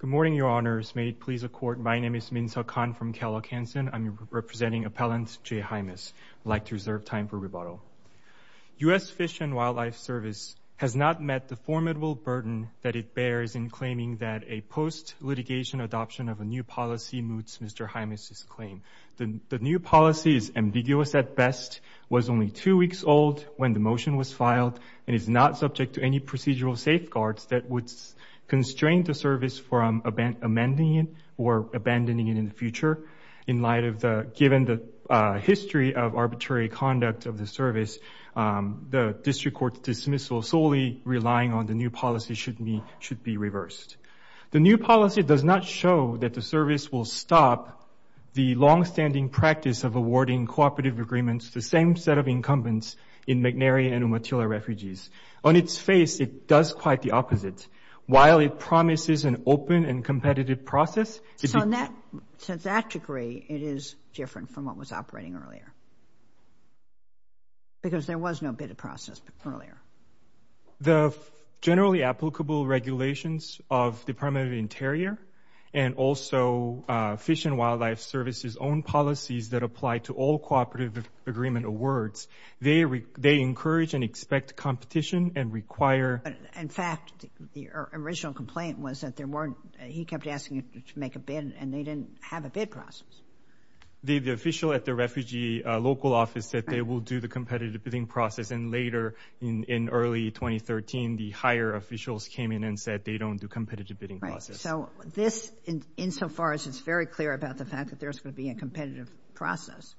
Good morning, Your Honors. May it please the Court, my name is Min Seok Han from Kellogg Hansen. I'm representing Appellant J. Hymas. I'd like to reserve time for rebuttal. U.S. Fish and Wildlife Service has not met the formidable burden that it bears in claiming that a post-litigation adoption of a new policy moots Mr. Hymas' claim. The new policy is ambiguous at best, was only two weeks old when the motion was filed, and is not subject to any procedural safeguards that would constrain the service from amending it or abandoning it in the future in light of the, given the history of arbitrary conduct of the service, the District Court's dismissal solely relying on the new policy should be reversed. The new policy does not show that the service will stop the long-standing practice of awarding cooperative agreements to the same set of incumbents in McNary and Umatilla refugees. On its face, it does quite the opposite. While it promises an open and competitive process... So in that, to that degree, it is different from what was operating earlier, because there was no bid process earlier. The generally applicable regulations of Department of the Interior and also Fish and Wildlife Service's own policies that apply to all cooperative agreement awards, they encourage and expect competition and require... In fact, the original complaint was that there weren't, he kept asking to make a bid, and they didn't have a bid process. The official at the refugee local office said they will do the competitive bidding process, and later in early 2013, the higher officials came in and said they don't do competitive bidding process. So this, in so far as it's very clear about the fact that there's going to be a competitive process,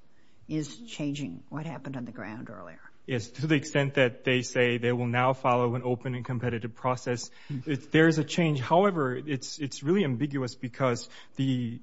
is changing what happened on the ground earlier. Yes, to the extent that they say they will now follow an open and competitive process, there's a change. However, it's really ambiguous because the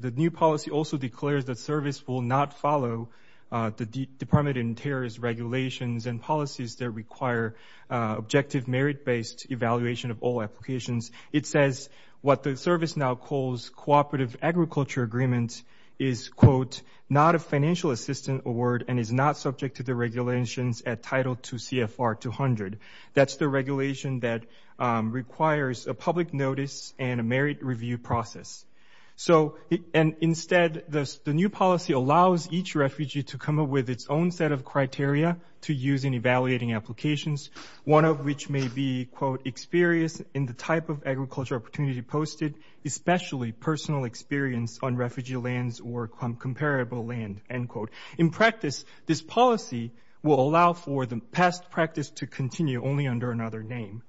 new policy also declares that service will not follow the Department of Interior's regulations and policies that require objective merit-based evaluation of all applications. It says what the service now calls cooperative agriculture agreement is, quote, not a financial assistant award and is not subject to the regulations at Title 2 CFR 200. That's the regulation that requires a public notice and a merit review process. So, and instead, the new policy allows each refugee to come up with its own set of criteria to use in evaluating applications, one of which may be, quote, experience in the type of agriculture opportunity posted, especially personal experience on refugee lands or comparable land, end quote. In practice, this policy will allow for the past practice to continue only under another name.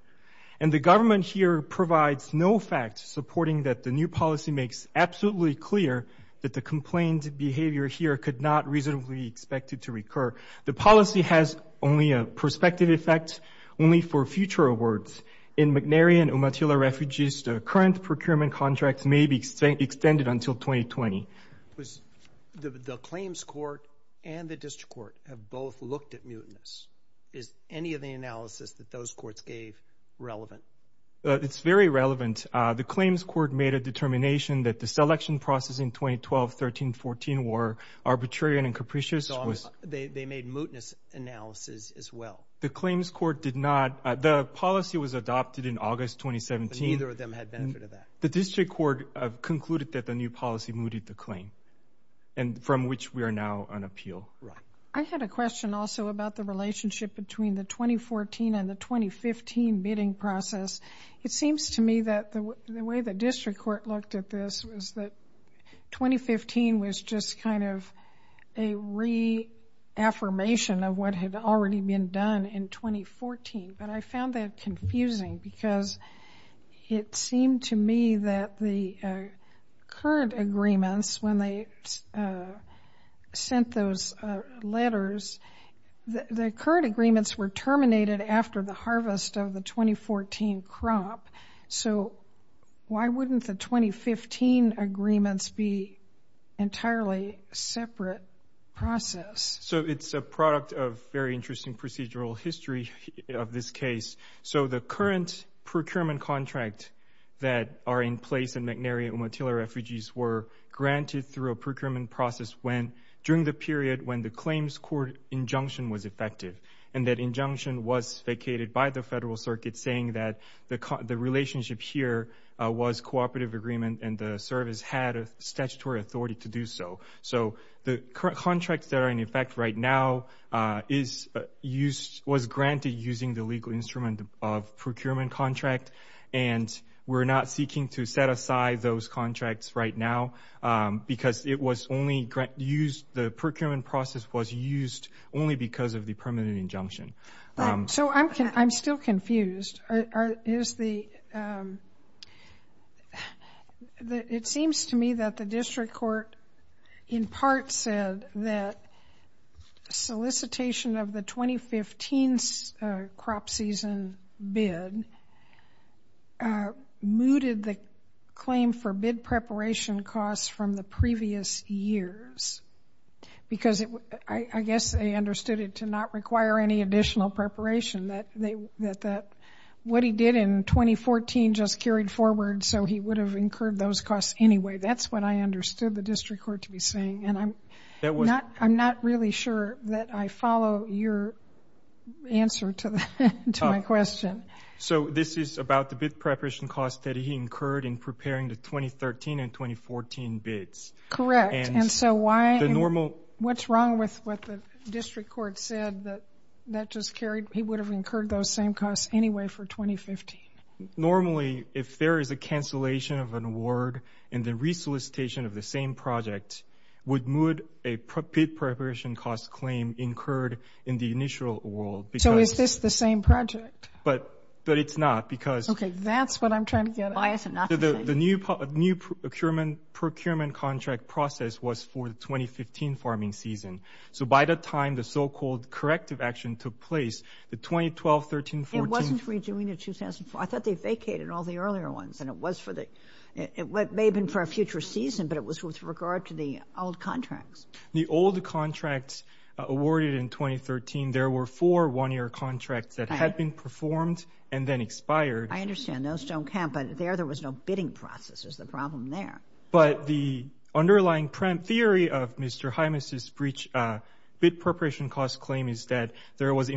And the government here provides no facts supporting that the new policy makes absolutely clear that the complained behavior here could not reasonably be expected to recur. The policy has only a prospective effect only for future awards. In McNary and others, the current procurement contracts may be extended until 2020. The claims court and the district court have both looked at mutinous. Is any of the analysis that those courts gave relevant? It's very relevant. The claims court made a determination that the selection process in 2012, 13, 14 were arbitrarian and capricious. They made mutinous analysis as well. The claims court did not, the policy was adopted in August 2017. Neither of them had benefit of that. The district court concluded that the new policy mooted the claim, and from which we are now on appeal. Right. I had a question also about the relationship between the 2014 and the 2015 bidding process. It seems to me that the way the district court looked at this was that 2015 was just kind of a reaffirmation of what had already been done in 2014. But I found that confusing because it seemed to me that the current agreements, when they sent those letters, the current agreements were terminated after the harvest of the 2014 So it's a product of very interesting procedural history of this case. So the current procurement contract that are in place in McNary and Umatilla Refugees were granted through a procurement process during the period when the claims court injunction was effective. And that injunction was vacated by the Federal Circuit saying that the relationship here was cooperative agreement and the service had a statutory authority to do so. So the contracts that are in effect right now was granted using the legal instrument of procurement contract, and we're not seeking to set aside those contracts right now because the procurement process was used only because of the permanent injunction. So I'm still confused. It seems to me that the that solicitation of the 2015 crop season bid mooted the claim for bid preparation costs from the previous years because I guess they understood it to not require any additional preparation. What he did in 2014 just carried forward so he would have incurred those costs anyway. That's what I understood the district court to be saying, and I'm not really sure that I follow your answer to my question. So this is about the bid preparation costs that he incurred in preparing the 2013 and 2014 bids. Correct. And so why? What's wrong with what the district court said that that just carried? He would have incurred those same costs anyway for 2015. Normally if there is a cancellation of an award and the re-solicitation of the same project would moot a bid preparation cost claim incurred in the initial award. So is this the same project? But it's not because... Okay, that's what I'm trying to get at. The new procurement contract process was for the 2015 farming season. So by the time the so-called corrective action took place, the 2012, 13, 14... It wasn't for the 2014. I thought they vacated all the earlier ones and it was for the... It may have been for a future season, but it was with regard to the old contracts. The old contracts awarded in 2013, there were four one-year contracts that had been performed and then expired. I understand. Those don't count, but there there was no bidding process. There's a problem there. But the underlying theory of Mr. Hymas's bid preparation cost claim is that there was a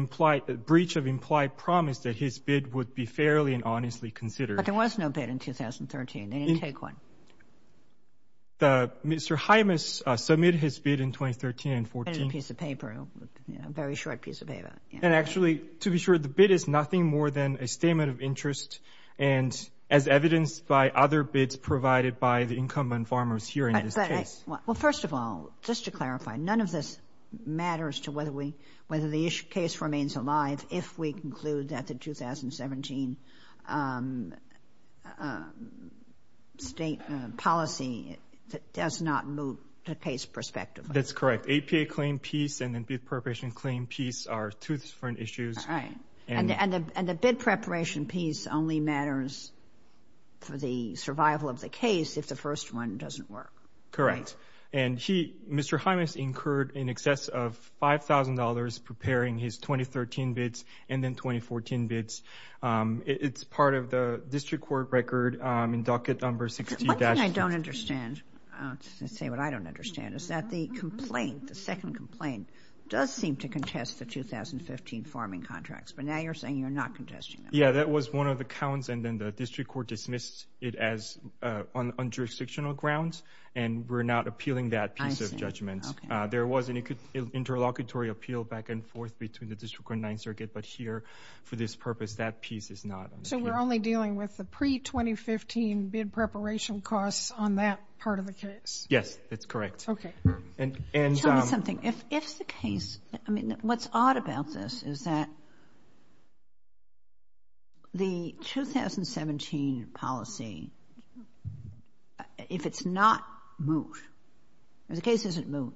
breach of implied promise that his bid would be fairly and honestly considered. But there was no bid in 2013. They didn't take one. Mr. Hymas submitted his bid in 2013 and 2014. It was a piece of paper, a very short piece of paper. And actually, to be sure, the bid is nothing more than a statement of interest and as evidenced by other bids provided by the incumbent farmers here in this case. Well first of all, just to clarify, none of this matters to whether the case remains alive if we conclude that the 2017 state policy does not move to case perspective. That's correct. APA claim piece and then bid preparation claim piece are two different issues. And the bid preparation piece only matters for the survival of the case if the first one doesn't work. Correct. And Mr. Hymas incurred in excess of $5,000 preparing his 2013 bids and then 2014 bids. It's part of the district court record in docket number 16-2. What I don't understand, I'll say what I don't understand, is that the complaint, the second complaint, does seem to contest the 2015 farming contracts. But now you're saying you're not contesting them. Yeah, that was one of the counts and then the district court dismissed it as on jurisdictional grounds and we're not appealing that piece of judgment. There was an interlocutory appeal back and forth between the district court and 9th Circuit, but here for this purpose that piece is not. So we're only dealing with the pre-2015 bid preparation costs on that part of the case? Yes, that's correct. Okay. Tell me something, if the case, I mean the case isn't moved,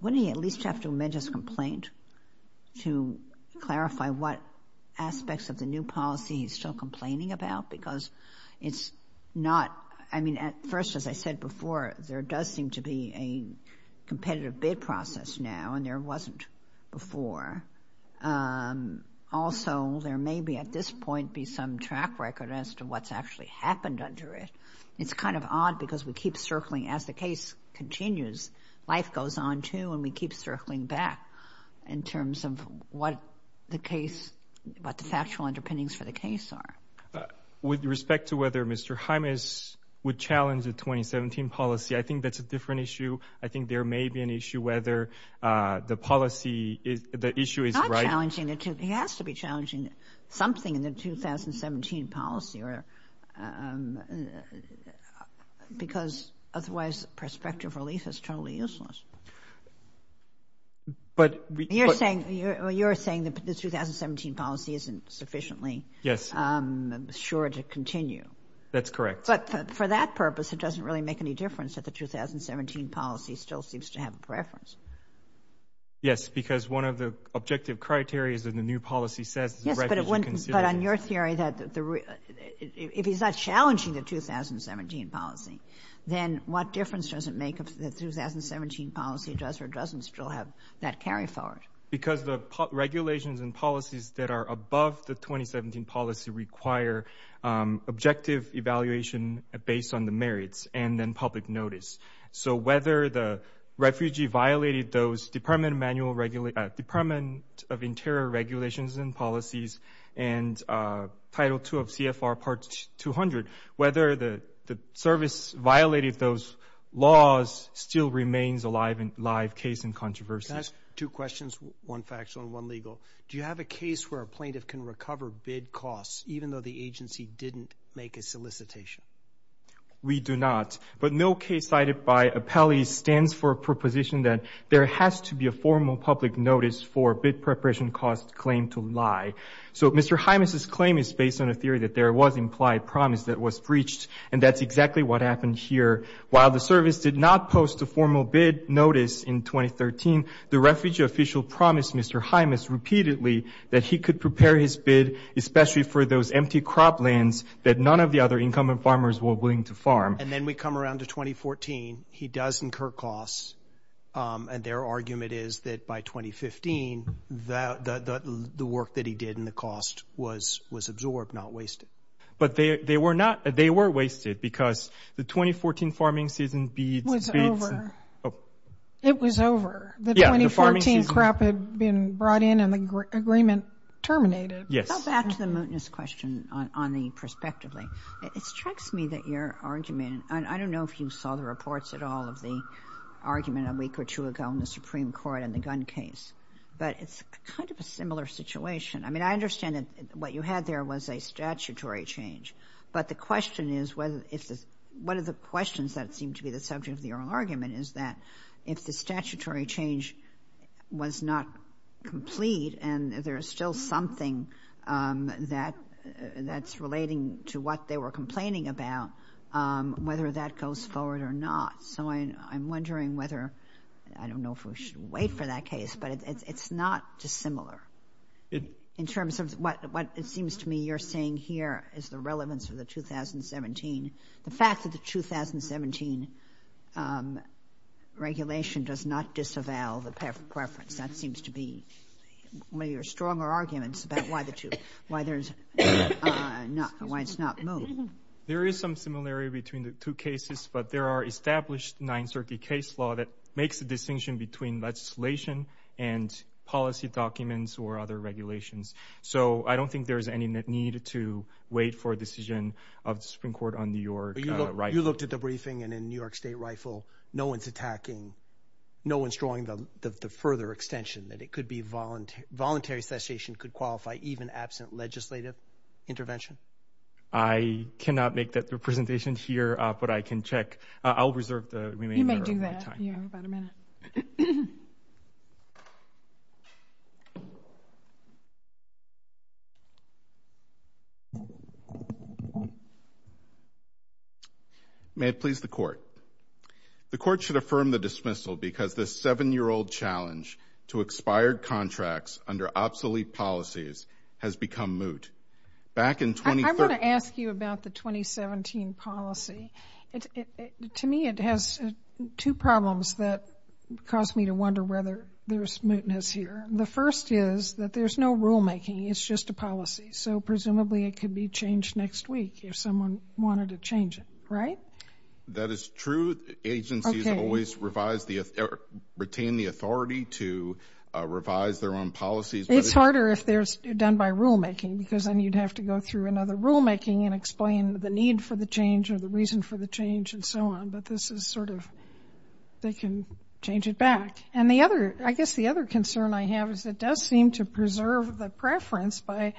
wouldn't he at least have to amend his complaint to clarify what aspects of the new policy he's still complaining about? Because it's not, I mean, at first, as I said before, there does seem to be a competitive bid process now and there wasn't before. Also, there may be at this point be some track record as to what's actually happened under it. It's kind of odd because we keep circling as the case continues. Life goes on, too, and we keep circling back in terms of what the case, what the factual underpinnings for the case are. With respect to whether Mr. Jimenez would challenge the 2017 policy, I think that's a different issue. I think there may be an issue whether the policy is, the issue is right. He has to be challenging something in the 2017 policy or because otherwise prospective relief is totally useless. But you're saying, you're saying that the 2017 policy isn't sufficiently sure to continue. That's correct. But for that purpose, it doesn't really make any difference that the 2017 policy still seems to have a preference. Yes, because one of the objective criteria is that the new policy says. Yes, but on your theory that if he's not challenging the 2017 policy, then what difference does it make if the 2017 policy does or doesn't still have that carry forward? Because the regulations and policies that are above the 2017 policy require objective evaluation based on the merits and then public notice. So whether the refugee violated those Department of Internal Regulations and Policies and Title 2 of CFR Part 200, whether the service violated those laws still remains a live case in controversy. Can I ask two questions? One factual and one legal. Do you have a case where a plaintiff can recover bid costs even though the agency didn't make a solicitation? We do not, but no case cited by appellees stands for a proposition that there has to be a claim to lie. So Mr. Hymas's claim is based on a theory that there was implied promise that was breached, and that's exactly what happened here. While the service did not post a formal bid notice in 2013, the refugee official promised Mr. Hymas repeatedly that he could prepare his bid, especially for those empty croplands that none of the other incumbent farmers were willing to farm. And then we come around to 2014. He does incur costs, and their argument is that by 2015, the work that he did and the cost was absorbed, not wasted. But they were not, they were wasted, because the 2014 farming season beads. It was over. The 2014 crap had been brought in and the agreement terminated. Yes. Back to the mootness question on the prospectively. It strikes me that your argument, and I don't know if you saw the reports at all of the argument a week or two ago in the case, but it's kind of a similar situation. I mean, I understand that what you had there was a statutory change, but the question is whether if this, one of the questions that seemed to be the subject of your argument is that if the statutory change was not complete and there is still something that that's relating to what they were complaining about, whether that goes forward or not. So I'm wondering whether, I don't know if we should wait for that case, but it's not dissimilar in terms of what it seems to me you're saying here is the relevance of the 2017. The fact that the 2017 regulation does not disavow the preference, that seems to be one of your stronger arguments about why the two, why there's not, why it's not moot. There is some similarity between the two nine-circuit case law that makes the distinction between legislation and policy documents or other regulations. So I don't think there's any need to wait for a decision of the Supreme Court on New York. You looked at the briefing and in New York State Rifle, no one's attacking, no one's drawing the further extension that it could be voluntary, voluntary cessation could qualify even absent legislative intervention. I cannot make that representation here, but I can reserve the remainder of my time. You may do that. You have about a minute. May it please the court. The court should affirm the dismissal because this seven-year-old challenge to expired contracts under obsolete policies has become moot. Back in 2013. I want to ask you about the 2017 policy. To me it has two problems that caused me to wonder whether there's mootness here. The first is that there's no rulemaking. It's just a policy. So presumably it could be changed next week if someone wanted to change it, right? That is true. Agencies always revise the, retain the authority to revise their own policies. It's harder if they're done by rulemaking because then you'd have to go through another rulemaking and explain the need for the change or the reason for the change and so on. But this is sort of, they can change it back. And the other, I guess the other concern I have is it does seem to preserve the preference by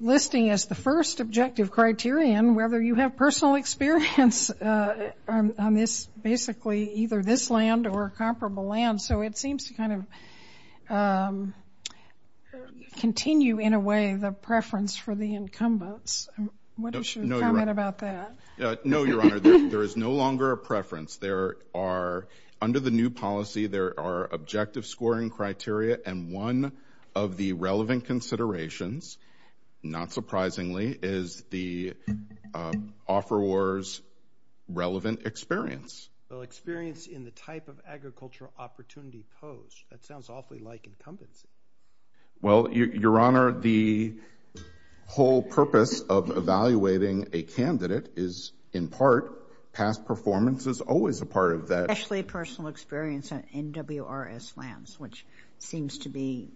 listing as the first objective criterion, whether you have personal experience on this, basically either this land or comparable land. So it seems to kind of continue in a way the preference for the incumbents. What is your comment about that? No, Your Honor, there is no longer a preference. There are, under the new policy, there are objective scoring criteria and one of the relevant considerations, not surprisingly, is the offeror's relevant experience. Well, experience in the type of agricultural opportunity posed. That sounds awfully like incumbency. Well, Your Honor, the whole purpose of evaluating a candidate is, in part, past performance is always a part of that. Especially personal experience in NWRS lands, which seems to be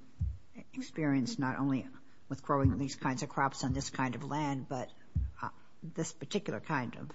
experienced not only with growing these kinds of crops on this kind of land, but this particular kind of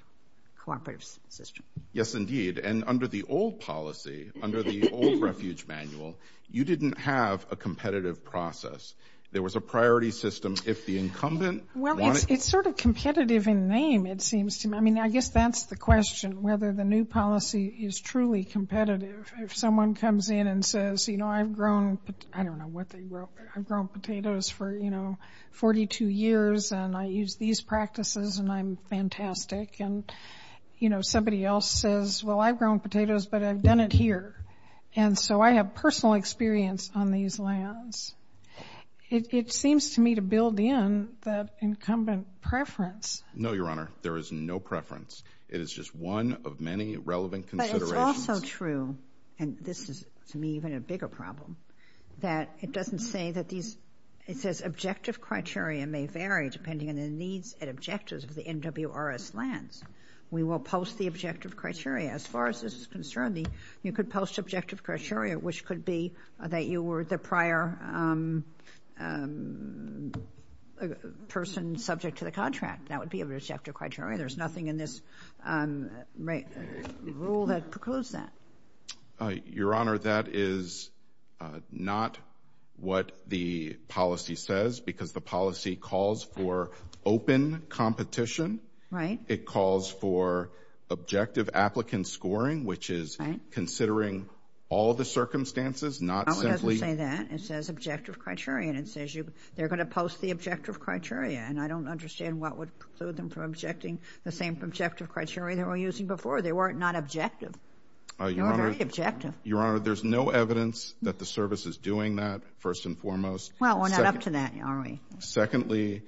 cooperative system. Yes, indeed. And under the old policy, under the old Refuge Manual, you didn't have a competitive process. There was a priority system. If the incumbent... Well, it's sort of competitive in name, it seems to me. I mean, I guess that's the question, whether the new policy is truly competitive. If someone comes in and says, you know, I've grown, I don't know what they grow, but I've grown potatoes for 42 years and I use these practices and I'm fantastic. And somebody else says, well, I've grown potatoes, but I've done it here. And so I have personal experience on these lands. It seems to me to build in that incumbent preference. No, Your Honor, there is no preference. It is just one of many relevant considerations. But it's also true, and this is, to me, even a bigger problem, that it doesn't say that these... It says objective criteria may vary depending on the needs and objectives of the NWRS lands. We will post the objective criteria. As far as this is concerned, you could post objective criteria, which could be that you were the prior person subject to the contract. That would be a rejected criteria. There's nothing in this rule that precludes that. Your Honor, that is not what the policy says, because the policy calls for open competition. Right. It calls for objective applicant scoring, which is considering all the circumstances, not simply... No, it doesn't say that. It says objective criteria, and it says they're gonna post the objective criteria. And I don't understand what would preclude them from objecting the same objective criteria they were using before. They weren't not objective. They were very objective. Your Honor, there's no evidence that the service is doing that, first and foremost. Well, we're not up to that, are we? Secondly,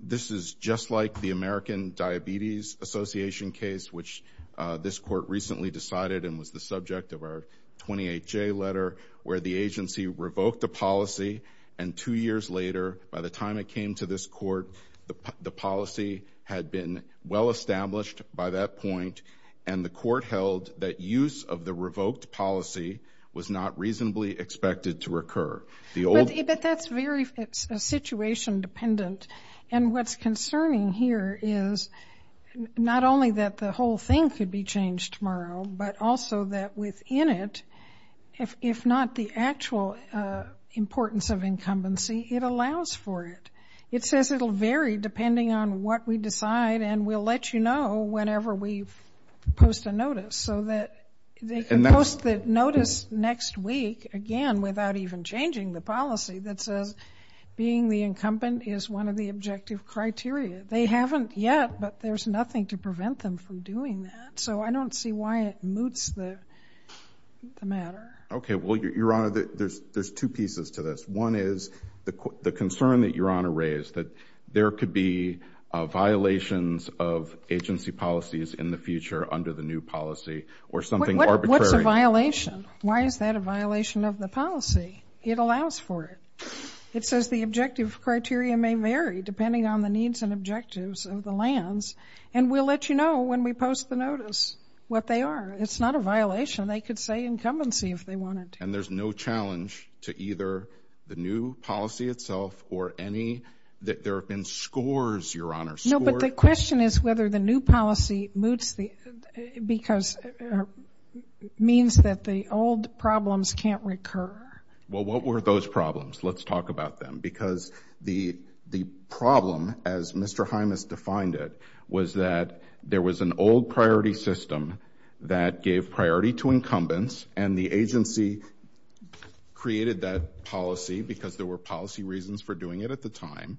this is just like the American Diabetes Association case, which this court recently decided and was the subject of our 28-J letter, where the agency revoked a policy, and two years later, by the time it came to this court, the policy had been well established by that point, and the court held that use of the revoked policy was not reasonably expected to occur. But that's very situation dependent. And what's concerning here is not only that the whole thing could be changed tomorrow, but also that within it, if not the actual importance of incumbency, it allows for it. It says it'll vary depending on what we decide, and we'll let you know whenever we post a notice, so that they can post the notice next week, again, without even changing the policy, that says being the incumbent is one of the objective criteria. They haven't yet, but there's nothing to prevent them from doing that. So I don't see why it moots the matter. Okay. Well, Your Honor, there's two pieces to this. One is the concern that Your Honor raised, that there could be violations of agency policies in the future under the new policy, or something arbitrary. What's a violation? Why is that a violation of the policy? It allows for it. It says the objective criteria may vary depending on the needs and objectives of the lands, and we'll let you know when we post the notice what they are. It's not a violation. They could say incumbency if they wanted to. And there's no challenge to either the new policy itself or any... There have been scores, Your Honor, scores... No, but the question is whether the new policy moots the... Because... Means that the old problems can't occur. Well, what were those problems? Let's talk about them, because the problem, as Mr. Hymas defined it, was that there was an old priority system that gave priority to incumbents, and the agency created that policy because there were policy reasons for doing it at the time.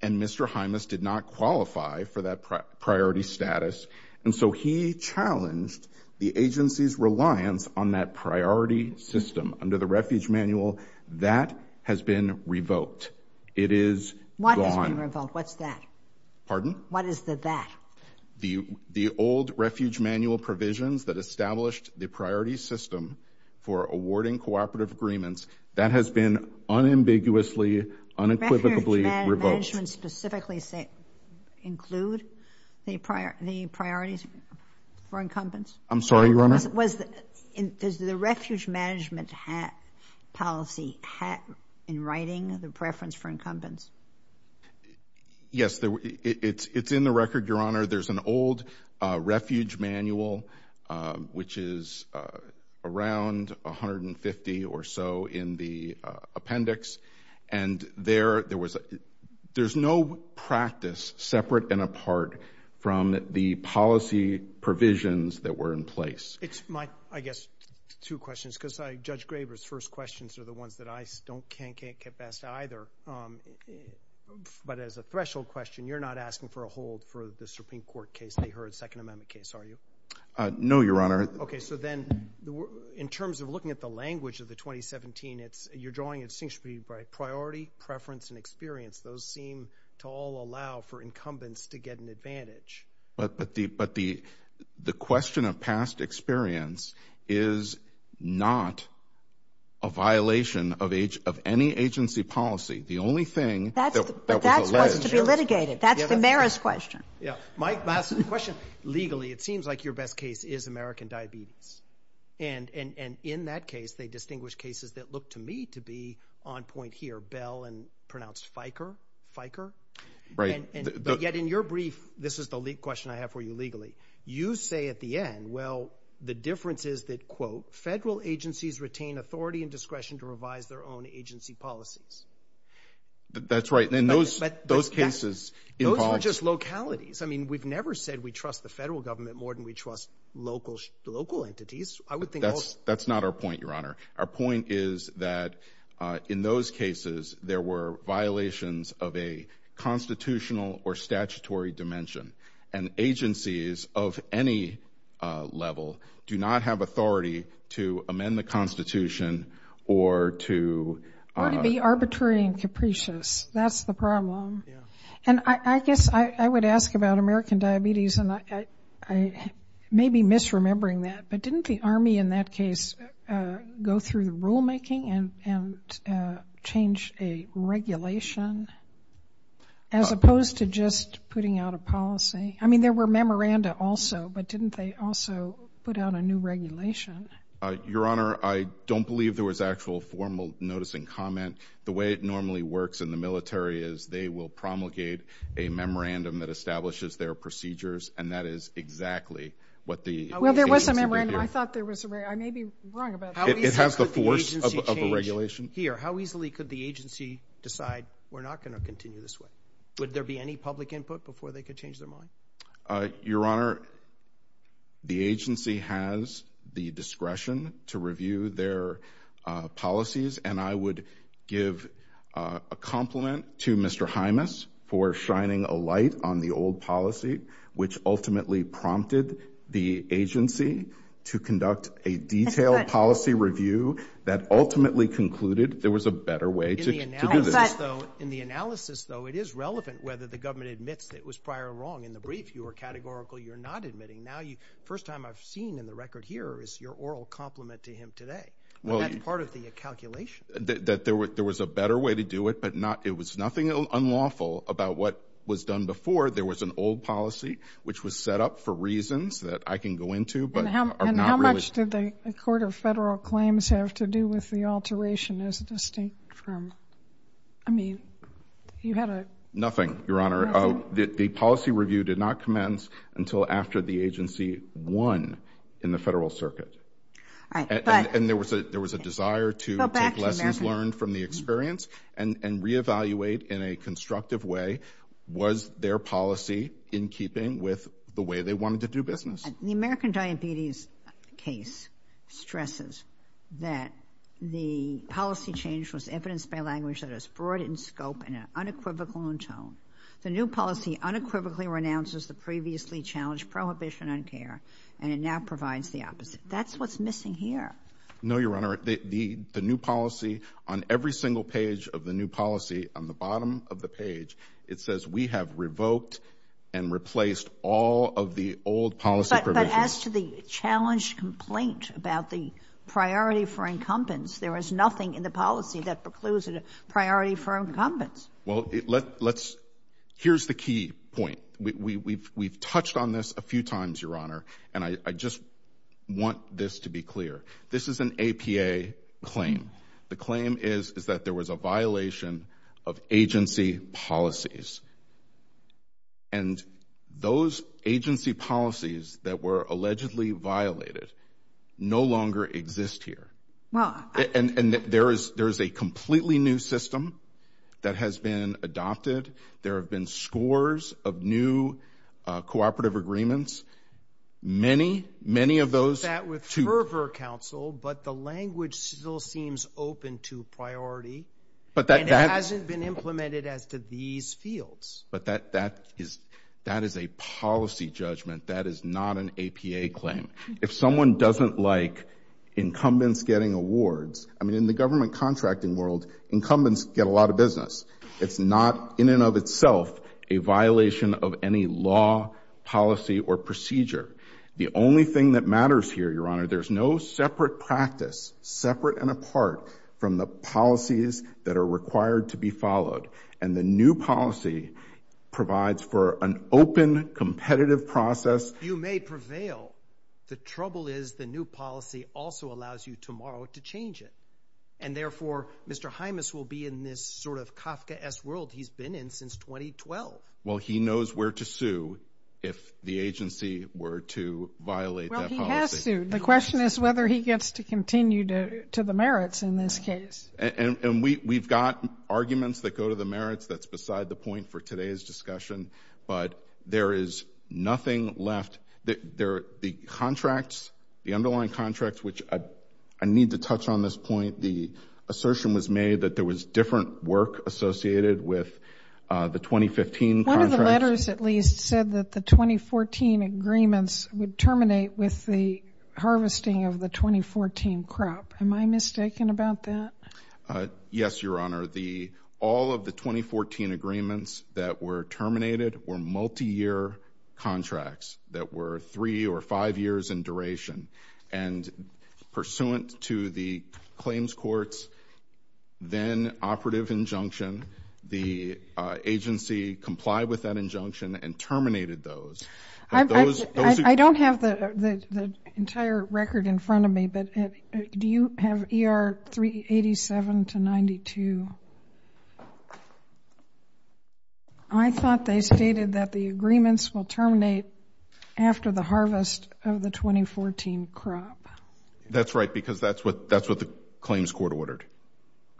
And Mr. Hymas did not qualify for that priority status, and so he challenged the agency's reliance on that priority system under the Refuge Manual. That has been revoked. It is gone. What has been revoked? What's that? Pardon? What is the that? The old Refuge Manual provisions that established the priority system for awarding cooperative agreements, that has been unambiguously, unequivocally revoked. Refuge Management specifically include the priorities for incumbents? I'm sorry, Your Honor? Does the Refuge Management policy have in writing the preference for incumbents? Yes, it's in the record, Your Honor. There's an old Refuge Manual, which is around 150 or so in the appendix, and there was... There's no practice separate and apart from the policy provisions that were in place. It's my, I guess, two questions, because Judge Graber's first questions are the ones that I can't get past either. But as a threshold question, you're not asking for a hold for the Supreme Court case, the Heard Second Amendment case, are you? No, Your Honor. Okay, so then, in terms of looking at the language of the 2017, you're drawing a distinction between priority, preference, and experience. Those seem to all allow for incumbents to get an advantage. But the question of past experience is not a violation of any agency policy. The only thing that was alleged... But that's supposed to be litigated. That's the mayor's question. Yeah. Mike, my question, legally, it seems like your best case is American Diabetes. And in that case, they distinguish cases that look, to me, to be on point here, pronounced Fiker. But yet, in your brief, this is the question I have for you legally. You say at the end, well, the difference is that, quote, federal agencies retain authority and discretion to revise their own agency policies. That's right. And those cases... Those are just localities. I mean, we've never said we trust the federal government more than we trust local entities. I would think... That's not our point, Your Honor. Our point is that, in those cases, there were violations of a constitutional or statutory dimension. And agencies of any level do not have authority to amend the Constitution or to... Or to be arbitrary and capricious. That's the problem. Yeah. And I guess I would ask about American Diabetes, and I may be misremembering that, but didn't the Army, in that case, go through the rulemaking and change a regulation, as opposed to just putting out a policy? I mean, there were memoranda also, but didn't they also put out a new regulation? Your Honor, I don't believe there was actual formal notice and comment. The way it normally works in the military is they will promulgate a memorandum that establishes their procedures, and that is exactly what the... Well, there was a memorandum. I thought there was a... I may be wrong about that. It has the force of a regulation. How easily could the agency decide, we're not gonna continue this way? Would there be any public input before they could change their mind? Your Honor, the agency has the discretion to review their policies, and I would give a compliment to Mr. Hymas for shining a light on that. But... In the analysis, though, it is relevant whether the government admits that it was prior wrong in the brief, you were categorical, you're not admitting. Now, the first time I've seen in the record here is your oral compliment to him today, but that's part of the calculation. That there was a better way to do it, but it was nothing unlawful about what was done before. There was an old policy, which was set up for reasons that I can go into, but are not really... And how much did the Court of Federal Claims have to do with the alteration? Is it distinct from... I mean, you had a... Nothing, Your Honor. The policy review did not commence until after the agency won in the federal circuit. And there was a desire to take lessons learned from the experience and reevaluate in a constructive way, was their policy in keeping with the way they wanted to do business. The American Diabetes case stresses that the policy change was evidenced by language that is broad in scope and unequivocal in tone. The new policy unequivocally renounces the previously challenged prohibition on care, and it now provides the opposite. That's what's missing here. No, Your Honor. The new policy on every single page of the new policy, on the bottom of the page, it says, we have revoked and replaced all of the old policy provisions. But as to the challenged complaint about the priority for incumbents, there is nothing in the policy that precludes a priority for incumbents. Well, let's... Here's the key point. We've touched on this a few times, Your Honor, and I just want this to be clear. This is an allegation of a violation of agency policies. And those agency policies that were allegedly violated no longer exist here. And there is a completely new system that has been adopted. There have been scores of new cooperative agreements. Many, many of those... I've dealt with that with open to priority. But that... And it hasn't been implemented as to these fields. But that is a policy judgment. That is not an APA claim. If someone doesn't like incumbents getting awards... I mean, in the government contracting world, incumbents get a lot of business. It's not, in and of itself, a violation of any law, policy, or procedure. The only thing that matters here, Your Honor, there's no separate practice, separate and apart, from the policies that are required to be followed. And the new policy provides for an open, competitive process. You may prevail. The trouble is, the new policy also allows you tomorrow to change it. And therefore, Mr. Hymas will be in this sort of Kafkaesque world he's been in since 2012. Well, he knows where to sue if the agency were to violate that policy. Well, he has sued. The question is to continue to the merits in this case. And we've got arguments that go to the merits. That's beside the point for today's discussion. But there is nothing left. The contracts, the underlying contracts, which I need to touch on this point, the assertion was made that there was different work associated with the 2015 contracts. One of the letters, at least, said that the 2014 agreements would terminate with the harvesting of the 2014 crop. Am I mistaken about that? Yes, Your Honor. All of the 2014 agreements that were terminated were multi year contracts that were three or five years in duration. And pursuant to the claims court's then operative injunction, the agency complied with that But do you have ER 387 to 92? I thought they stated that the agreements will terminate after the harvest of the 2014 crop. That's right, because that's what the claims court ordered.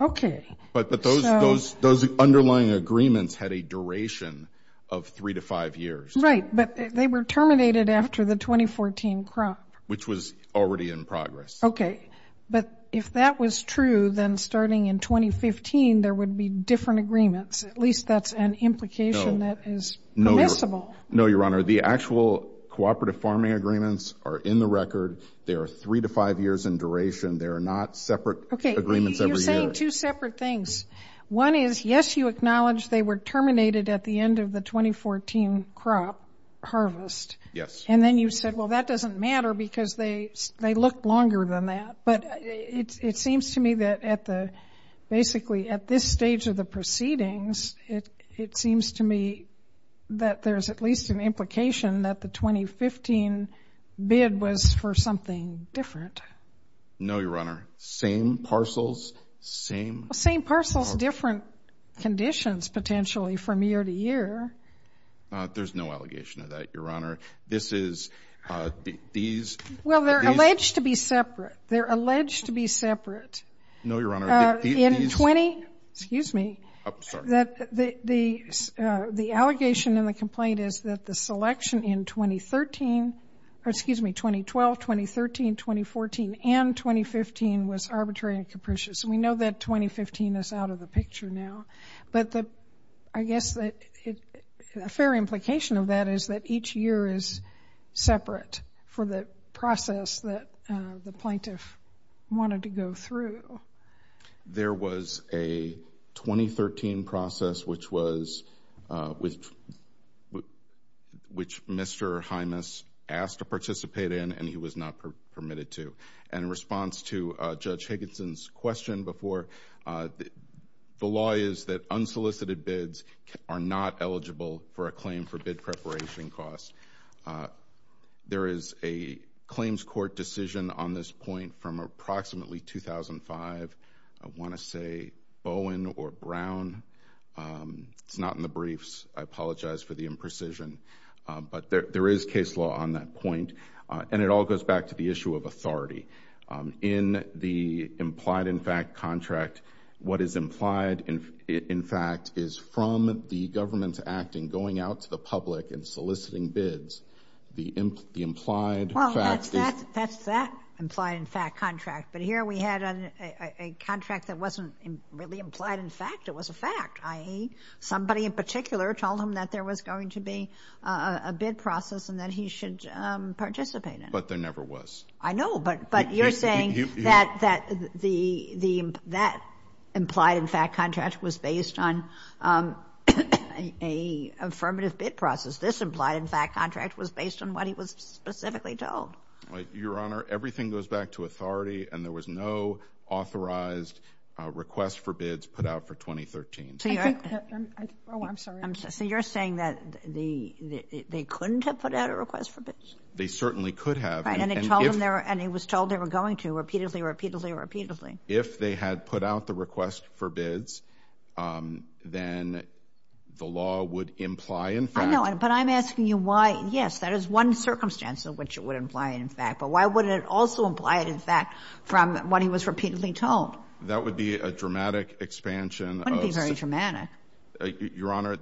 Okay. But those underlying agreements had a duration of three to five years. Right. But they were terminated after the 2014 crop. Which was already in progress. Okay. But if that was true, then starting in 2015, there would be different agreements. At least that's an implication that is permissible. No, Your Honor. The actual cooperative farming agreements are in the record. They are three to five years in duration. They are not separate agreements every year. Okay. You're saying two separate things. One is, yes, you acknowledge they were terminated at the end of the 2014 crop harvest. Yes. And then you said, well, that doesn't matter because they looked longer than that. But it seems to me that basically at this stage of the proceedings, it seems to me that there's at least an implication that the 2015 bid was for something different. No, Your Honor. Same parcels, same... Same parcels, different conditions potentially from year to year. There's no allegation of that, Your Honor. This is... These... Well, they're alleged to be separate. They're alleged to be separate. No, Your Honor. In 20... Excuse me. The allegation in the complaint is that the selection in 2013, or excuse me, 2012, 2013, 2014, and 2015 was arbitrary and capricious. And we know that 2015 is out of the picture now. But I guess that a fair implication of that is that each year is separate for the process that the plaintiff wanted to go through. There was a 2013 process which was... Which Mr. Hymas asked to participate in and he was not permitted to. And in response to Judge Higginson's question before, the law is that unsolicited bids are not eligible for a claim for bid preparation cost. There is a claims court decision on this point from approximately 2005. I want to say Bowen or Brown. It's not in the briefs. I apologize for the imprecision. But there is case law on that point. And it all goes back to the issue of authority. In the implied-in-fact contract, what is implied-in-fact is from the government acting, going out to the public and soliciting bids. The implied-in-fact... Well, that's that implied-in-fact contract. But here we had a contract that wasn't really implied-in-fact. It was a fact, i.e. somebody in particular told him that there was going to be a bid process and that he should participate in it. But there never was. I know, but you're saying that the... That implied-in-fact contract was based on a affirmative bid process. This implied-in-fact contract was based on what he was specifically told. Your Honor, everything goes back to authority and there was no authorized request for bids put out for 2013. So you're... Oh, I'm sorry. So you're saying that they couldn't have put out a request for bids? They certainly could have. Right. And he was told they were going to repeatedly, repeatedly, repeatedly. If they had put out the request for bids, then the law would imply, in fact... I know, but I'm asking you why, yes, that is one circumstance in which it would imply an in-fact. But why would it also imply an in-fact from what he was repeatedly told? That would be a dramatic expansion of... It wouldn't be very dramatic. Your Honor,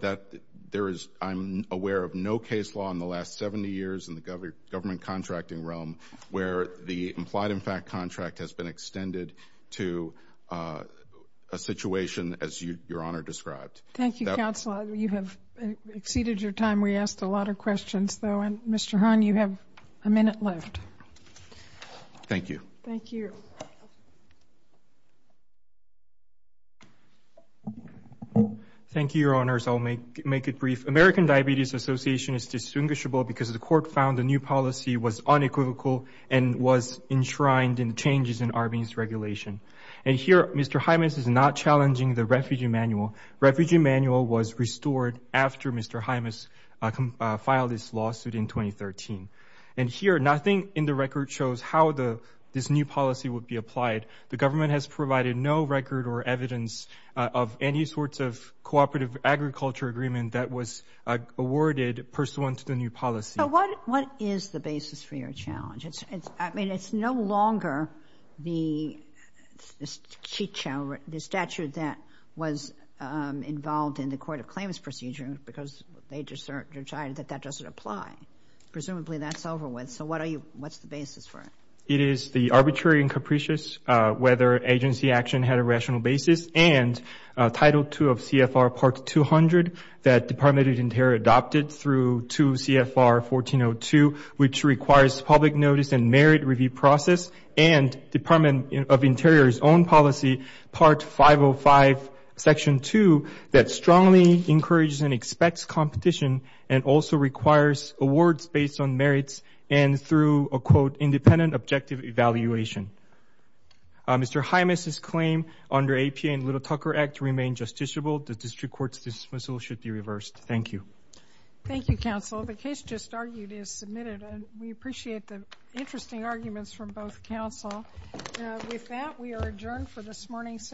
there is... I'm aware of no case law in the last 70 years in the government contracting realm where the implied-in-fact contract has been extended to a situation as Your Honor described. Thank you, counsel. You have exceeded your time. We asked a lot of questions, though, and Mr. Hahn, you have a minute left. Thank you. Thank you. Thank you, Your Honors. I'll make it brief. American Diabetes Association is distinguishable because the court found the new policy was unequivocal and was enshrined in the changes in Arby's regulation. And here, Mr. Hymas is not challenging the refugee manual. Refugee manual was restored after Mr. Hymas filed this lawsuit in 2013. And here, nothing in the record shows how this new policy would be applied. The government has provided no record or any sorts of cooperative agriculture agreement that was awarded pursuant to the new policy. What is the basis for your challenge? I mean, it's no longer the statute that was involved in the Court of Claims procedure because they decided that that doesn't apply. Presumably that's over with. So what are you... What's the basis for it? It is the arbitrary and Title 2 of CFR Part 200 that Department of the Interior adopted through 2 CFR 1402, which requires public notice and merit review process and Department of Interior's own policy, Part 505, Section 2, that strongly encourages and expects competition and also requires awards based on merits and through a, quote, independent objective evaluation. Mr. Hymas's claim under APA and Little Cucker Act remain justiciable. The district court's dismissal should be reversed. Thank you. Thank you, counsel. The case just argued is submitted and we appreciate the interesting arguments from both counsel. With that, we are adjourned for this morning's session.